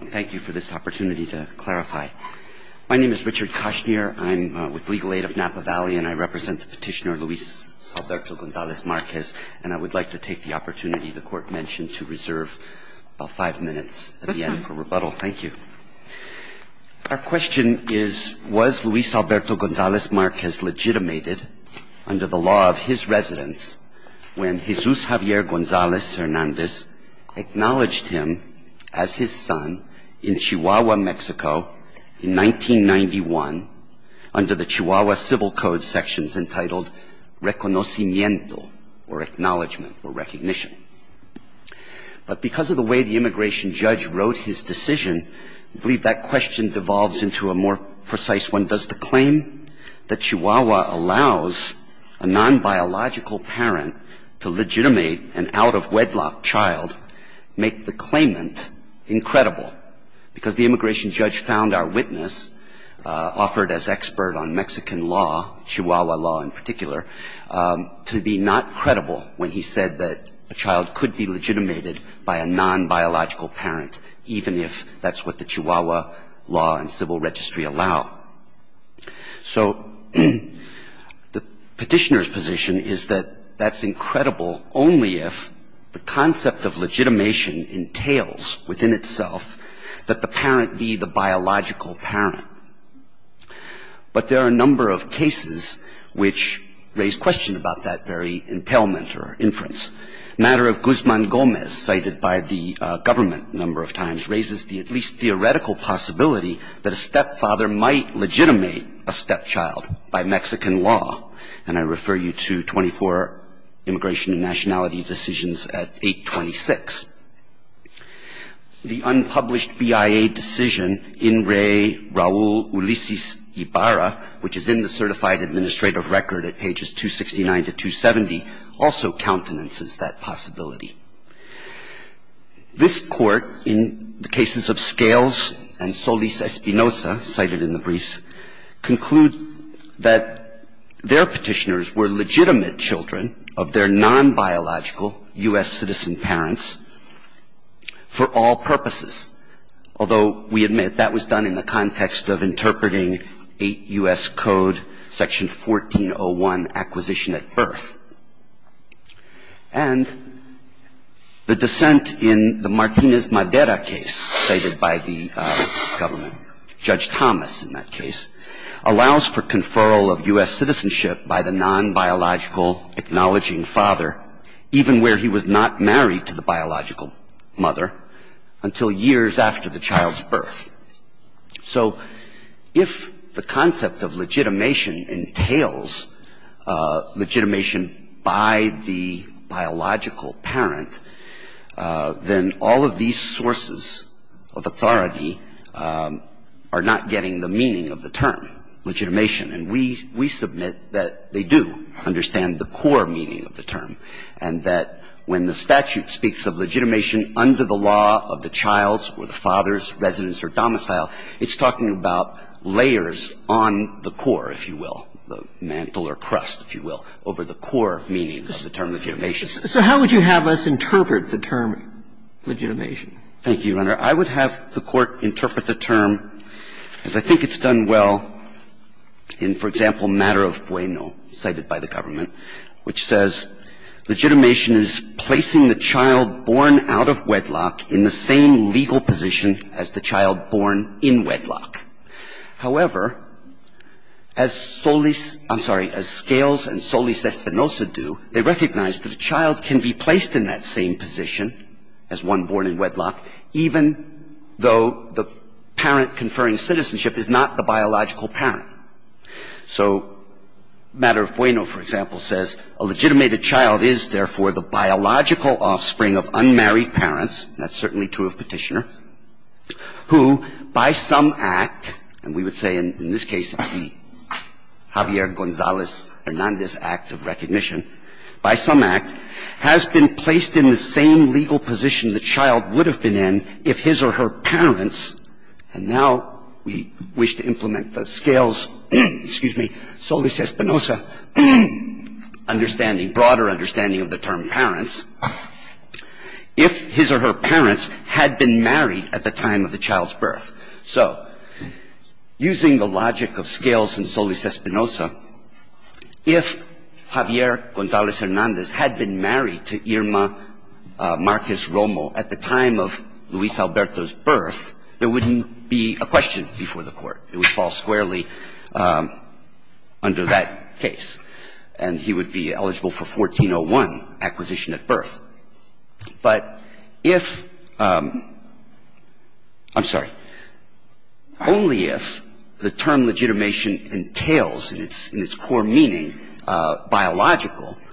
Thank you for this opportunity to clarify. My name is Richard Cashnier. I'm with Legal Aid of Napa Valley, and I represent the petitioner Luis Alberto Gonzalez-Marquez, and I would like to take the opportunity the court mentioned to reserve about five minutes at the end for rebuttal. Thank you. Our question is, was Luis Alberto Gonzalez-Marquez legitimated under the law of his residence when Jesus Javier Gonzalez-Hernandez acknowledged him as his son in Chihuahua, Mexico in 1991 under the Chihuahua Civil Code sections entitled reconocimiento, or acknowledgement, or recognition? But because of the way the immigration judge wrote his decision, I believe that question devolves into a more precise one. Does the claim that Chihuahua allows a non-biological parent to legitimate an out-of-wedlock child make the claimant incredible? Because the immigration judge found our witness, offered as expert on Mexican law, Chihuahua law in particular, to be not credible when he said that a child could be legitimated by a non-biological parent, even if that's what the Chihuahua law and civil registry allow. So the petitioner's position is that that's incredible only if the concept of legitimation entails within itself that the parent be the biological parent. But there are a number of cases which raise question about that very entailment or inference. Matter of Guzman-Gomez, cited by the government a number of times, raises the at least theoretical possibility that a stepfather might legitimate a stepchild by Mexican law. And I refer you to 24 Immigration and Nationality Decisions at 826. The unpublished BIA decision in re Raul Ulises Ibarra, which is in the certified administrative record at pages 269 to 270, also countenances that possibility. This Court, in the cases of Scales and Solis-Espinosa, cited in the briefs, conclude that their petitioners were legitimate children of their non-biological U.S. citizen parents for all purposes, although we admit that was done in the context of interpreting 8 U.S. Code Section 1401, Acquisition at Birth. And the dissent in the Martinez-Madera case cited by the government, Judge Thomas in that case, allows for conferral of U.S. citizenship by the non-biological acknowledging father, even where he was not married to the biological mother, until years after the child's birth. So if the concept of legitimation entails legitimation by the biological parent, then all of these sources of authority are not getting the meaning of the term, legitimation. And we submit that they do understand the core meaning of the term, and that when the statute speaks of legitimation under the law of the child's or the father's residence or domicile, it's talking about layers on the core, if you will, the mantle or crust, if you will, over the core meaning of the term legitimation. So how would you have us interpret the term legitimation? Thank you, Your Honor. I would have the Court interpret the term, as I think it's done well in, for example, matter of bueno cited by the government, which says legitimation is placing the child born out of wedlock in the same legal position as the child born in wedlock. However, as Solis — I'm sorry, as Scales and Solis-Espinosa do, they recognize that a child can be placed in that same position as one born in wedlock, even if the parent conferring citizenship is not the biological parent. So matter of bueno, for example, says a legitimated child is, therefore, the biological offspring of unmarried parents. That's certainly true of Petitioner, who by some act — and we would say in this case it's the Javier Gonzalez-Hernandez Act of recognition — by some act has been or her parents — and now we wish to implement the Scales — excuse me, Solis-Espinosa understanding, broader understanding of the term parents — if his or her parents had been married at the time of the child's birth. So using the logic of Scales and Solis-Espinosa, if Javier Gonzalez-Hernandez had been married to Irma Marquez-Romo at the time of Luis Alberto's birth, there wouldn't be a question before the Court. It would fall squarely under that case, and he would be eligible for 1401 acquisition at birth. But if — I'm sorry. Only if the term legitimation entails in its core meaning biological —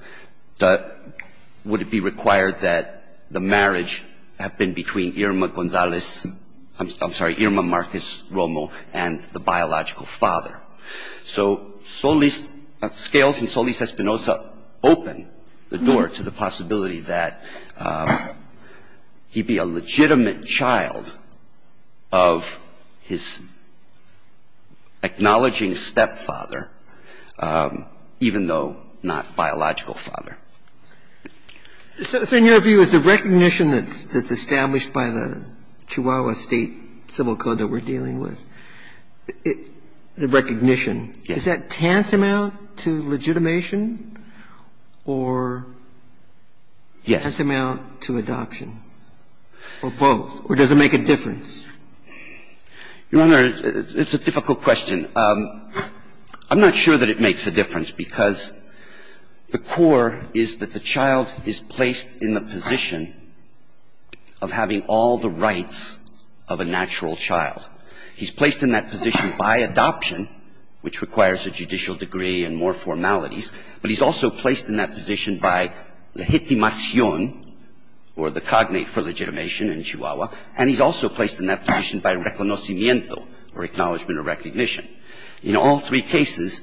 would it be required that the marriage have been between Irma Gonzalez — I'm sorry, Irma Marquez-Romo and the biological father. So Solis — Scales and Solis-Espinosa open the door to the possibility that he'd be a legitimate child of his acknowledging stepfather, even though not biological. So the question is, if the term legitimation entails in its core meaning biological, would it be required that the marriage have been between Irma Gonzalez-Romo and the biological father? So in your view, is the recognition that's — that's established by the Chihuahua State Civil Code that we're dealing with, the recognition, is that tantamount to legitimation or tantamount to adoption, or both, or does it make a difference? Your Honor, it's a difficult question. I'm not sure that it makes a difference, because the core is that the child is placed in the position of having all the rights of a natural child. He's placed in that position by adoption, which requires a judicial degree and more formalities, but he's also placed in that position by legitimación, or the cognate for legitimation in Chihuahua, and he's also placed in that position by adoption, which requires a judicial degree, and he's also placed in that position by reconocimiento, or acknowledgment or recognition. In all three cases,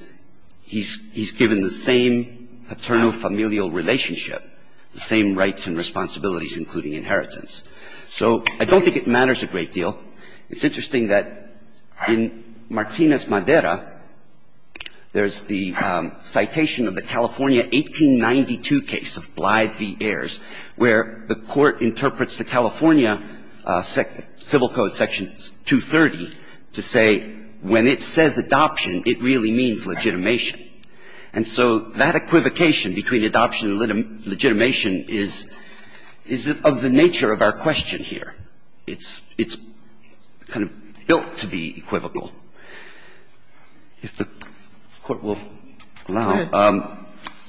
he's — he's given the same paterno-familial relationship, the same rights and responsibilities, including inheritance. So I don't think it matters a great deal. It's interesting that in Martinez-Madera, there's the citation of the California 1892 case of Blythe v. Ayers, where the Court interprets the California Civil Code, Section 230, to say when it says adoption, it really means legitimation. And so that equivocation between adoption and legitimation is — is of the nature of our question here. It's — it's kind of built to be equivocal, if the Court will allow. Now,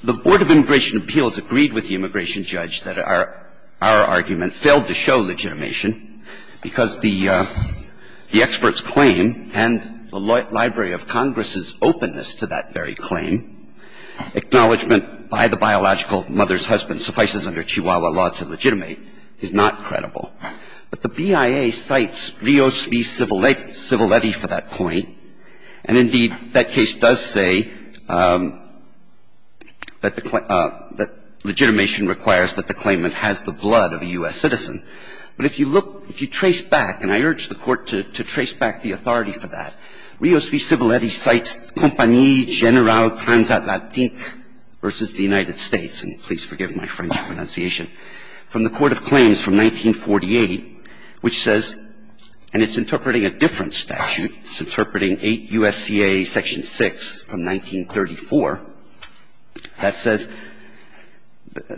the Board of Immigration Appeals agreed with the immigration judge that our — our argument failed to show legitimation because the — the expert's claim and the Library of Congress's openness to that very claim, acknowledgment by the biological mother's husband suffices under Chihuahua law to legitimate, is not credible. But the BIA cites Rios v. Civiletti for that point, and indeed, that case does say that the — that legitimation requires that the claimant has the blood of a U.S. citizen. But if you look — if you trace back, and I urge the Court to — to trace back the authority for that, Rios v. Civiletti cites Compagnie Generale Transatlantique v. the United States, and please forgive my French pronunciation, from the Court of Claims from 1948, which says — and it's interpreting a different statute. It's interpreting 8 U.S.C.A. Section 6 from 1934. That says —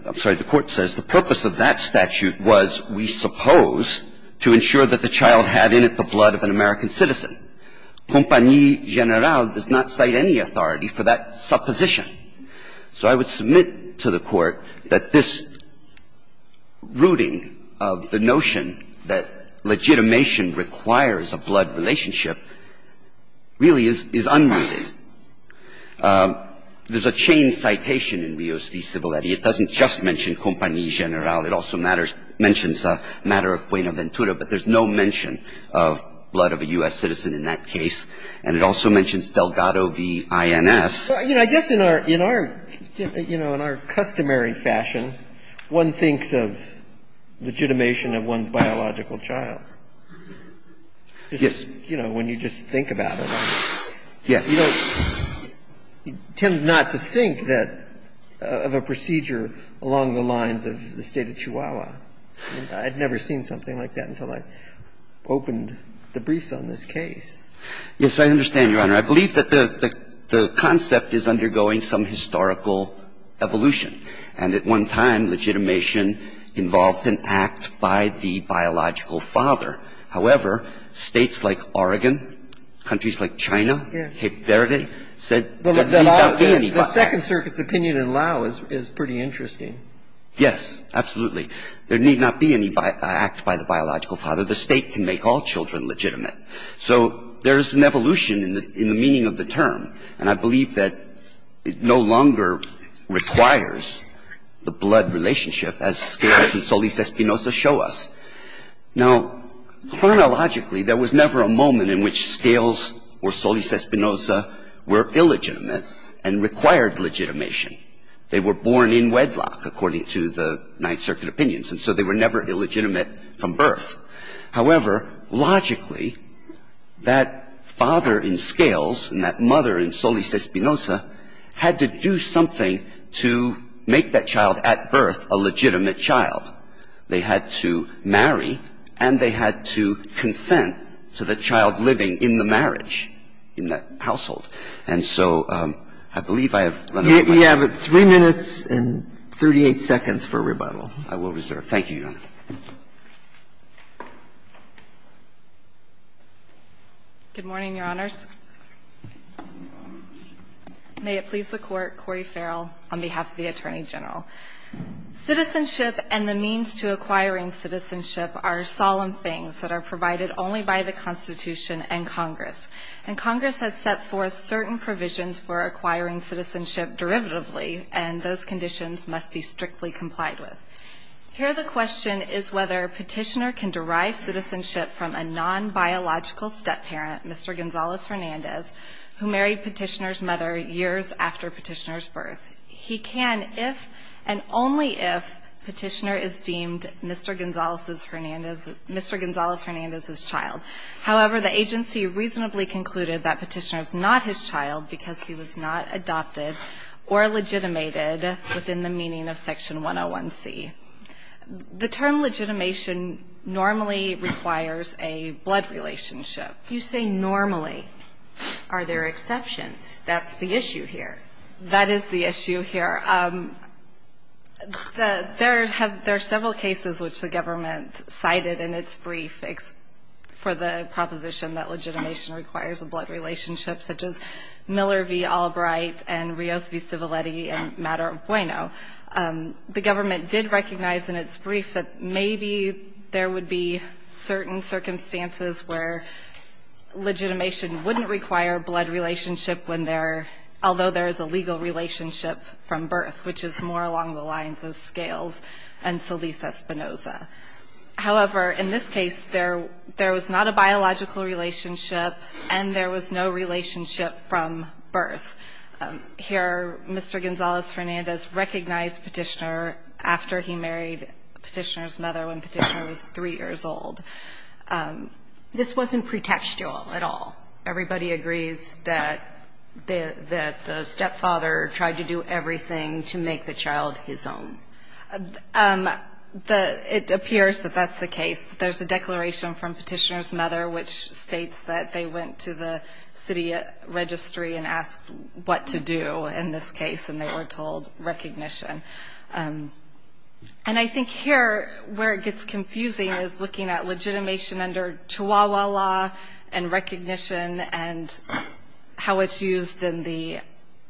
I'm sorry, the Court says the purpose of that statute was, we suppose, to ensure that the child had in it the blood of an American citizen. Compagnie Generale does not cite any authority for that supposition. So I would submit to the Court that this rooting of the notion that legitimation requires a blood relationship really is — is unrooted. There's a chain citation in Rios v. Civiletti. It doesn't just mention Compagnie Generale. It also matters — mentions a matter of puena ventura, but there's no mention of blood of a U.S. citizen in that case. And it also mentions Delgado v. INS. But, you know, I guess in our — in our, you know, in our customary fashion, one thinks of legitimation of one's biological child. Yes. You know, when you just think about it. Yes. You know, you tend not to think that — of a procedure along the lines of the State of Chihuahua. I mean, I'd never seen something like that until I opened the briefs on this case. Yes, I understand, Your Honor. I believe that the concept is undergoing some historical evolution. And at one time, legitimation involved an act by the biological father. However, states like Oregon, countries like China, Cape Verde, said there need not be any — The Second Circuit's opinion in Laos is pretty interesting. Yes, absolutely. There need not be any act by the biological father. The State can make all children legitimate. So there's an evolution in the meaning of the term. And I believe that it no longer requires the blood relationship, as Scalise and Solis Espinoza show us. Now, chronologically, there was never a moment in which Scalise or Solis Espinoza were illegitimate and required legitimation. They were born in wedlock, according to the Ninth Circuit opinions, and so they were never illegitimate from birth. However, logically, that father in Scalise and that mother in Solis Espinoza had to do something to make that child at birth a legitimate child. They had to marry, and they had to consent to the child living in the marriage in that household. And so I believe I have run out of time. You have 3 minutes and 38 seconds for rebuttal. I will reserve. Thank you, Your Honor. Good morning, Your Honors. Good morning. May it please the Court, Corey Farrell, on behalf of the Attorney General. Citizenship and the means to acquiring citizenship are solemn things that are provided only by the Constitution and Congress. And Congress has set forth certain provisions for acquiring citizenship derivatively, and those conditions must be strictly complied with. Here the question is whether Petitioner can derive citizenship from a nonbiological step-parent, Mr. Gonzales-Hernandez, who married Petitioner's mother years after Petitioner's birth. He can if and only if Petitioner is deemed Mr. Gonzales-Hernandez's child. However, the agency reasonably concluded that Petitioner is not his child because he was not adopted or legitimated within the meaning of Section 101C. The term legitimation normally requires a blood relationship. You say normally. Are there exceptions? That's the issue here. That is the issue here. There are several cases which the government cited in its brief for the proposition that legitimation requires a blood relationship, such as Miller v. Albright and Rios v. And the agency recognized in its brief that maybe there would be certain circumstances where legitimation wouldn't require a blood relationship when there, although there is a legal relationship from birth, which is more along the lines of Scales and Solis Espinoza. However, in this case, there was not a biological relationship and there was no relationship from birth. Here, Mr. Gonzales-Hernandez recognized Petitioner after he married Petitioner's mother when Petitioner was 3 years old. This wasn't pretextual at all. Everybody agrees that the stepfather tried to do everything to make the child his own. It appears that that's the case. There's a declaration from Petitioner's mother which states that they went to the city registry and asked what to do in this case, and they were told recognition. And I think here where it gets confusing is looking at legitimation under Chihuahua law and recognition and how it's used in the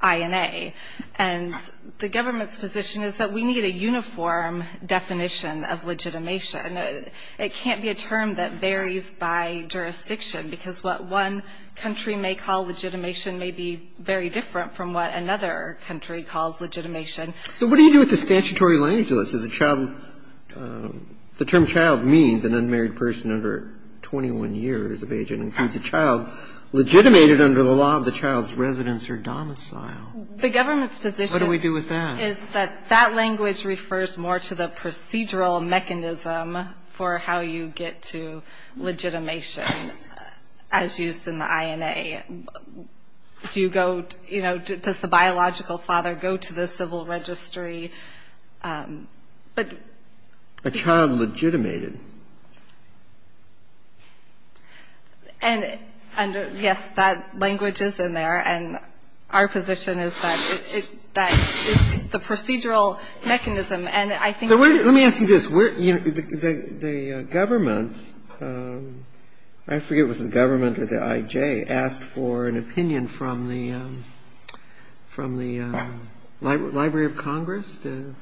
INA. And the government's position is that we need a uniform definition of legitimation. And it can't be a term that varies by jurisdiction, because what one country may call legitimation may be very different from what another country calls legitimation. So what do you do with the statutory language of this? Is a child – the term child means an unmarried person under 21 years of age and includes a child legitimated under the law of the child's residence or domicile. The government's position – What do we do with that? Is that that language refers more to the procedural mechanism for how you get to legitimation as used in the INA. Do you go – you know, does the biological father go to the civil registry? But – A child legitimated. And, yes, that language is in there. And our position is that it – that is the procedural mechanism. And I think – Let me ask you this. The government – I forget if it was the government or the I.J. – asked for an opinion from the Library of Congress, the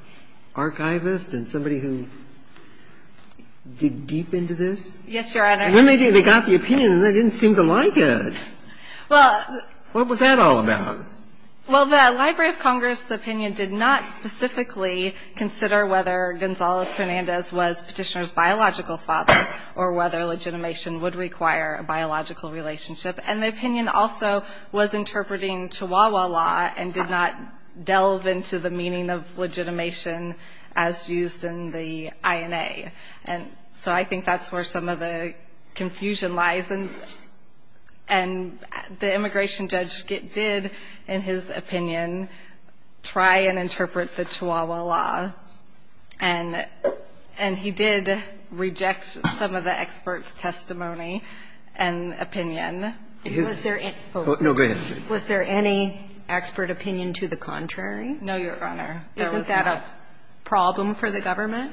archivist, and somebody who digged deep into this? Yes, Your Honor. And when they got the opinion, they didn't seem to like it. Well – What was that all about? Well, the Library of Congress's opinion did not specifically consider whether Gonzales-Hernandez was Petitioner's biological father or whether legitimation would require a biological relationship. And the opinion also was interpreting Chihuahua law and did not delve into the meaning of legitimation as used in the INA. And so I think that's where some of the confusion lies. And the immigration judge did, in his opinion, try and interpret the Chihuahua law. And he did reject some of the expert's testimony and opinion. Was there any – Was there any expert opinion to the contrary? No, Your Honor. There was not. Isn't that a problem for the government?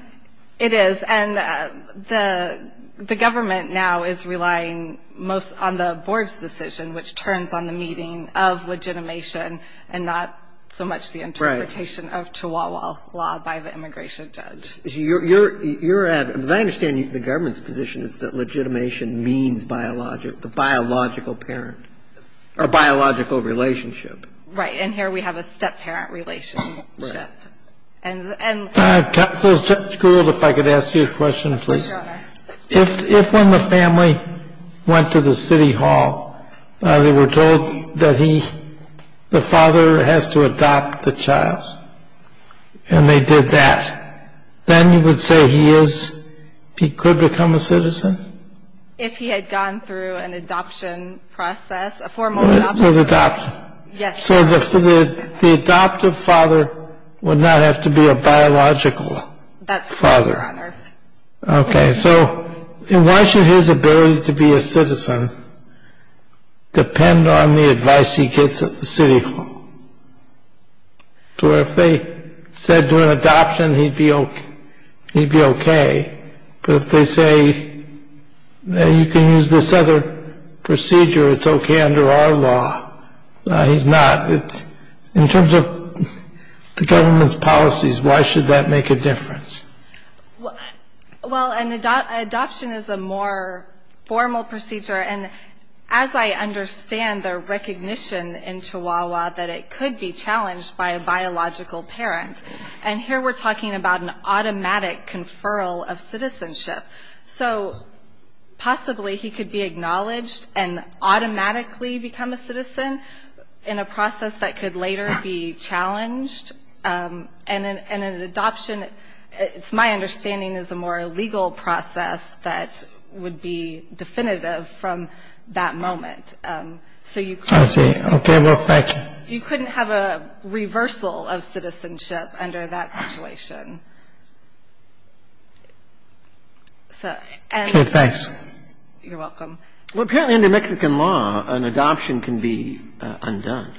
It is. And the government now is relying most on the board's decision, which turns on the meaning of legitimation and not so much the interpretation of Chihuahua law by the immigration judge. Right. So you're at – because I understand the government's position is that legitimation means biological parent or biological relationship. Right. And here we have a step-parent relationship. Right. And – Counsel, Judge Gould, if I could ask you a question, please. Yes, Your Honor. If when the family went to the city hall, they were told that he – the father has to adopt the child, and they did that, then you would say he is – he could become a citizen? If he had gone through an adoption process, a formal adoption process. Yes. So the adoptive father would not have to be a biological father. That's correct, Your Honor. Okay. So why should his ability to be a citizen depend on the advice he gets at the city hall? To where if they said during adoption he'd be okay, but if they say you can use this other procedure, it's okay under our law. He's not. In terms of the government's policies, why should that make a difference? Well, an adoption is a more formal procedure. And as I understand their recognition in Chihuahua that it could be challenged by a biological parent. And here we're talking about an automatic conferral of citizenship. So possibly he could be acknowledged and automatically become a citizen in a process that could later be challenged. And an adoption, it's my understanding, is a more legal process that would be definitive from that moment. I see. Okay. Well, thank you. You couldn't have a reversal of citizenship under that situation. So thanks. You're welcome. Well, apparently under Mexican law, an adoption can be undone.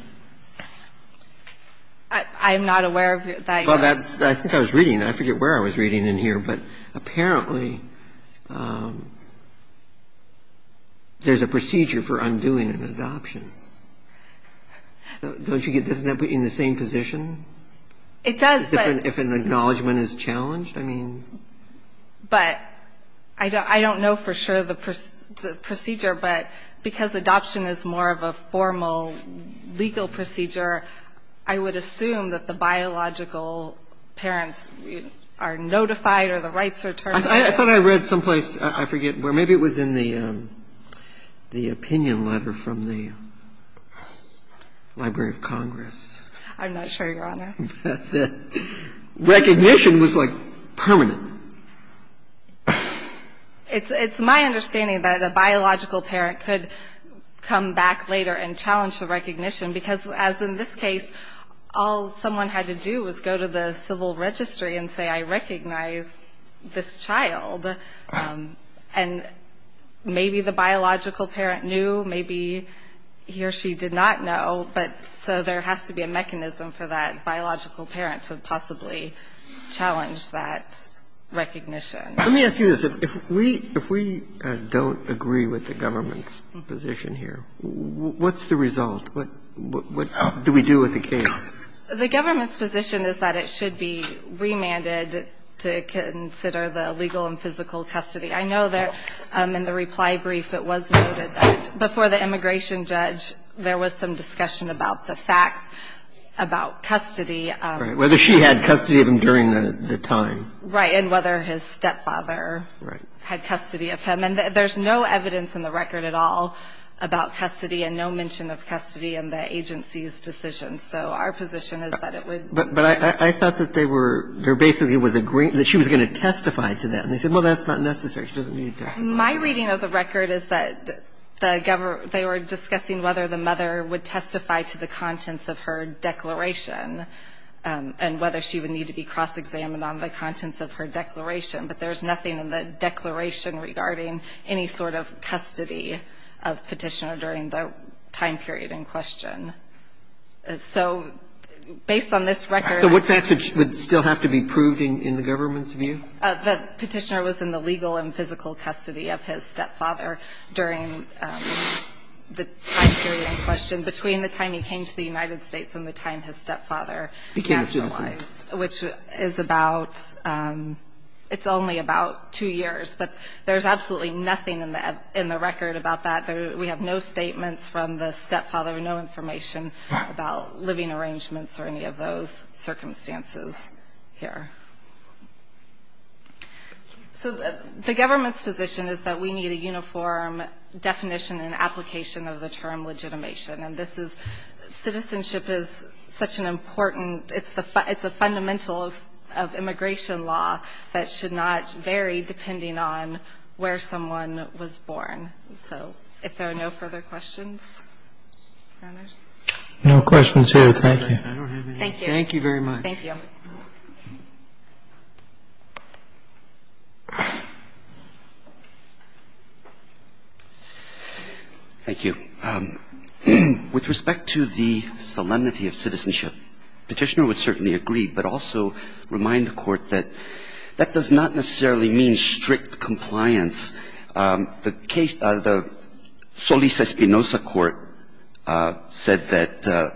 I am not aware of that. Well, I think I was reading. I forget where I was reading in here. But apparently there's a procedure for undoing an adoption. Don't you get this in the same position? It does, but — The judgment is challenged? I mean — But I don't know for sure the procedure, but because adoption is more of a formal, legal procedure, I would assume that the biological parents are notified or the rights are terminated. I thought I read someplace. I forget where. Maybe it was in the opinion letter from the Library of Congress. I'm not sure, Your Honor. Recognition was, like, permanent. It's my understanding that a biological parent could come back later and challenge the recognition because, as in this case, all someone had to do was go to the civil registry and say, I recognize this child. And maybe the biological parent knew. Maybe he or she did not know. But so there has to be a mechanism for that biological parent to possibly challenge that recognition. Let me ask you this. If we don't agree with the government's position here, what's the result? What do we do with the case? The government's position is that it should be remanded to consider the legal and physical custody. I know that in the reply brief it was noted that before the immigration judge, there was some discussion about the facts, about custody. Right. Whether she had custody of him during the time. Right. And whether his stepfather had custody of him. And there's no evidence in the record at all about custody and no mention of custody in the agency's decision. So our position is that it would be remanded. But I thought that they were, there basically was a, that she was going to testify to that. And they said, well, that's not necessary. She doesn't need to testify. My reading of the record is that the government, they were discussing whether the mother would testify to the contents of her declaration and whether she would need to be cross-examined on the contents of her declaration. But there's nothing in the declaration regarding any sort of custody of Petitioner during the time period in question. So based on this record. So what facts would still have to be proved in the government's view? The Petitioner was in the legal and physical custody of his stepfather during the time period in question, between the time he came to the United States and the time his stepfather. He came to the U.S. Which is about, it's only about two years. But there's absolutely nothing in the record about that. We have no statements from the stepfather, no information about living arrangements or any of those circumstances here. So the government's position is that we need a uniform definition and application of the term legitimation. And this is, citizenship is such an important, it's a fundamental of immigration law that should not vary depending on where someone was born. So if there are no further questions, Your Honors. No questions here. Thank you. Thank you. Thank you very much. Thank you. Thank you. With respect to the solemnity of citizenship, Petitioner would certainly agree, but also remind the Court that that does not necessarily mean strict compliance. The case, the Solis-Espinosa Court said that the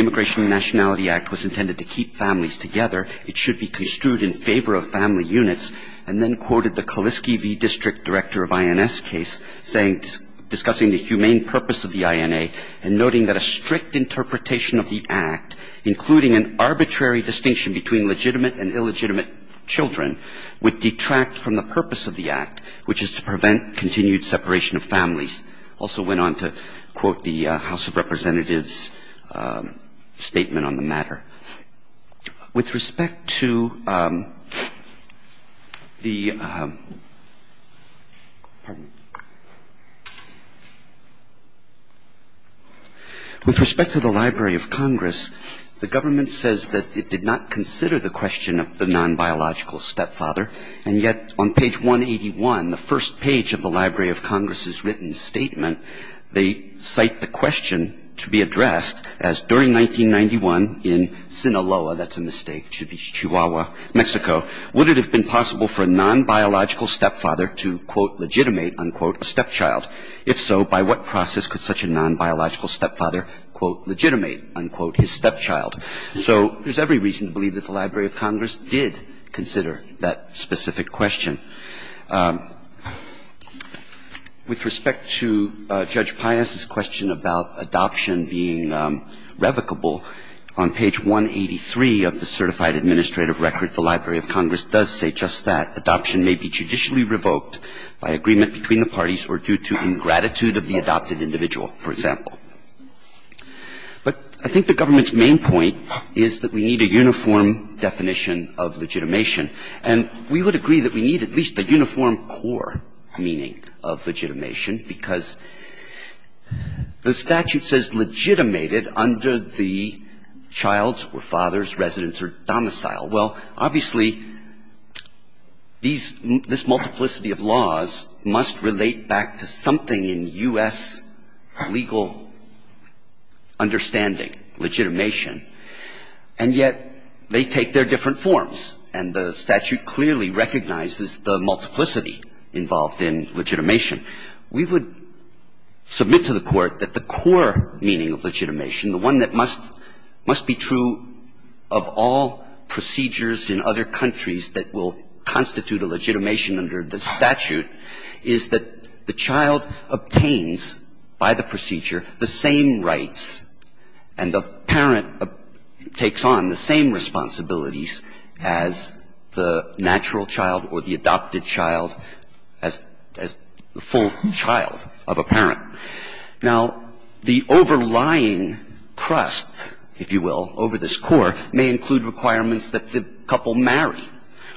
Immigration and Nationality Act was intended to keep families together. It should be construed in favor of family units. And then quoted the Kaliski v. District Director of INS case saying, discussing the humane purpose of the INA and noting that a strict interpretation of the Act, including an arbitrary distinction between legitimate and illegitimate children, would detract from the purpose of the Act, which is to prevent continued separation of families. Also went on to quote the House of Representatives statement on the matter. With respect to the, pardon me. With respect to the Library of Congress, the government says that it did not consider the question of the non-biological stepfather. And yet on page 181, the first page of the Library of Congress's written statement, they cite the question to be addressed as during 1991 in Sinaloa, that's a mistake, Chihuahua, Mexico, would it have been possible for a non-biological stepfather to, quote, legitimate, unquote, a stepchild? If so, by what process could such a non-biological stepfather, quote, legitimate, unquote, his stepchild? So there's every reason to believe that the Library of Congress did consider that specific question. With respect to Judge Pius's question about adoption being revocable, on page 183 of the Certified Administrative Record, the Library of Congress does say just that, adoption may be judicially revoked by agreement between the parties or due to ingratitude of the adopted individual, for example. But I think the government's main point is that we need a uniform definition of legitimation. And we would agree that we need at least a uniform core meaning of legitimation because the statute says legitimated under the child's or father's residence or domicile. Well, obviously, these – this multiplicity of laws must relate back to something in U.S. legal understanding, legitimation, and yet they take their different forms, and the statute clearly recognizes the multiplicity involved in legitimation. We would submit to the Court that the core meaning of legitimation, the one that must – must be true of all procedures in other countries that will constitute a legitimation under the statute, is that the child obtains by the procedure the same rights and the parent takes on the same responsibilities as the natural child or the adopted child, as – as the full child of a parent. Now, the overlying crust, if you will, over this core may include requirements that the couple marry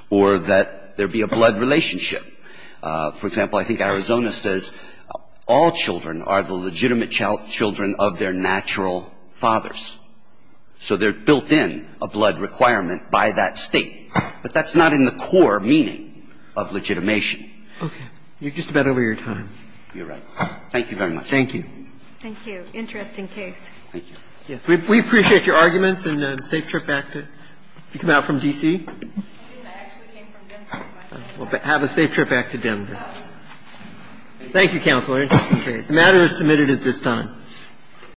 or that there be a blood relationship. For example, I think Arizona says all children are the legitimate children of their natural fathers. So they're built in a blood requirement by that State. But that's not in the core meaning of legitimation. Okay. You're just about over your time. You're right. Thank you very much. Thank you. Thank you. Interesting case. Thank you. Yes. We appreciate your arguments and safe trip back to – you come out from D.C.? I actually came from Denver. Well, have a safe trip back to Denver. Thank you, Counselor. Interesting case. The matter is submitted at this time.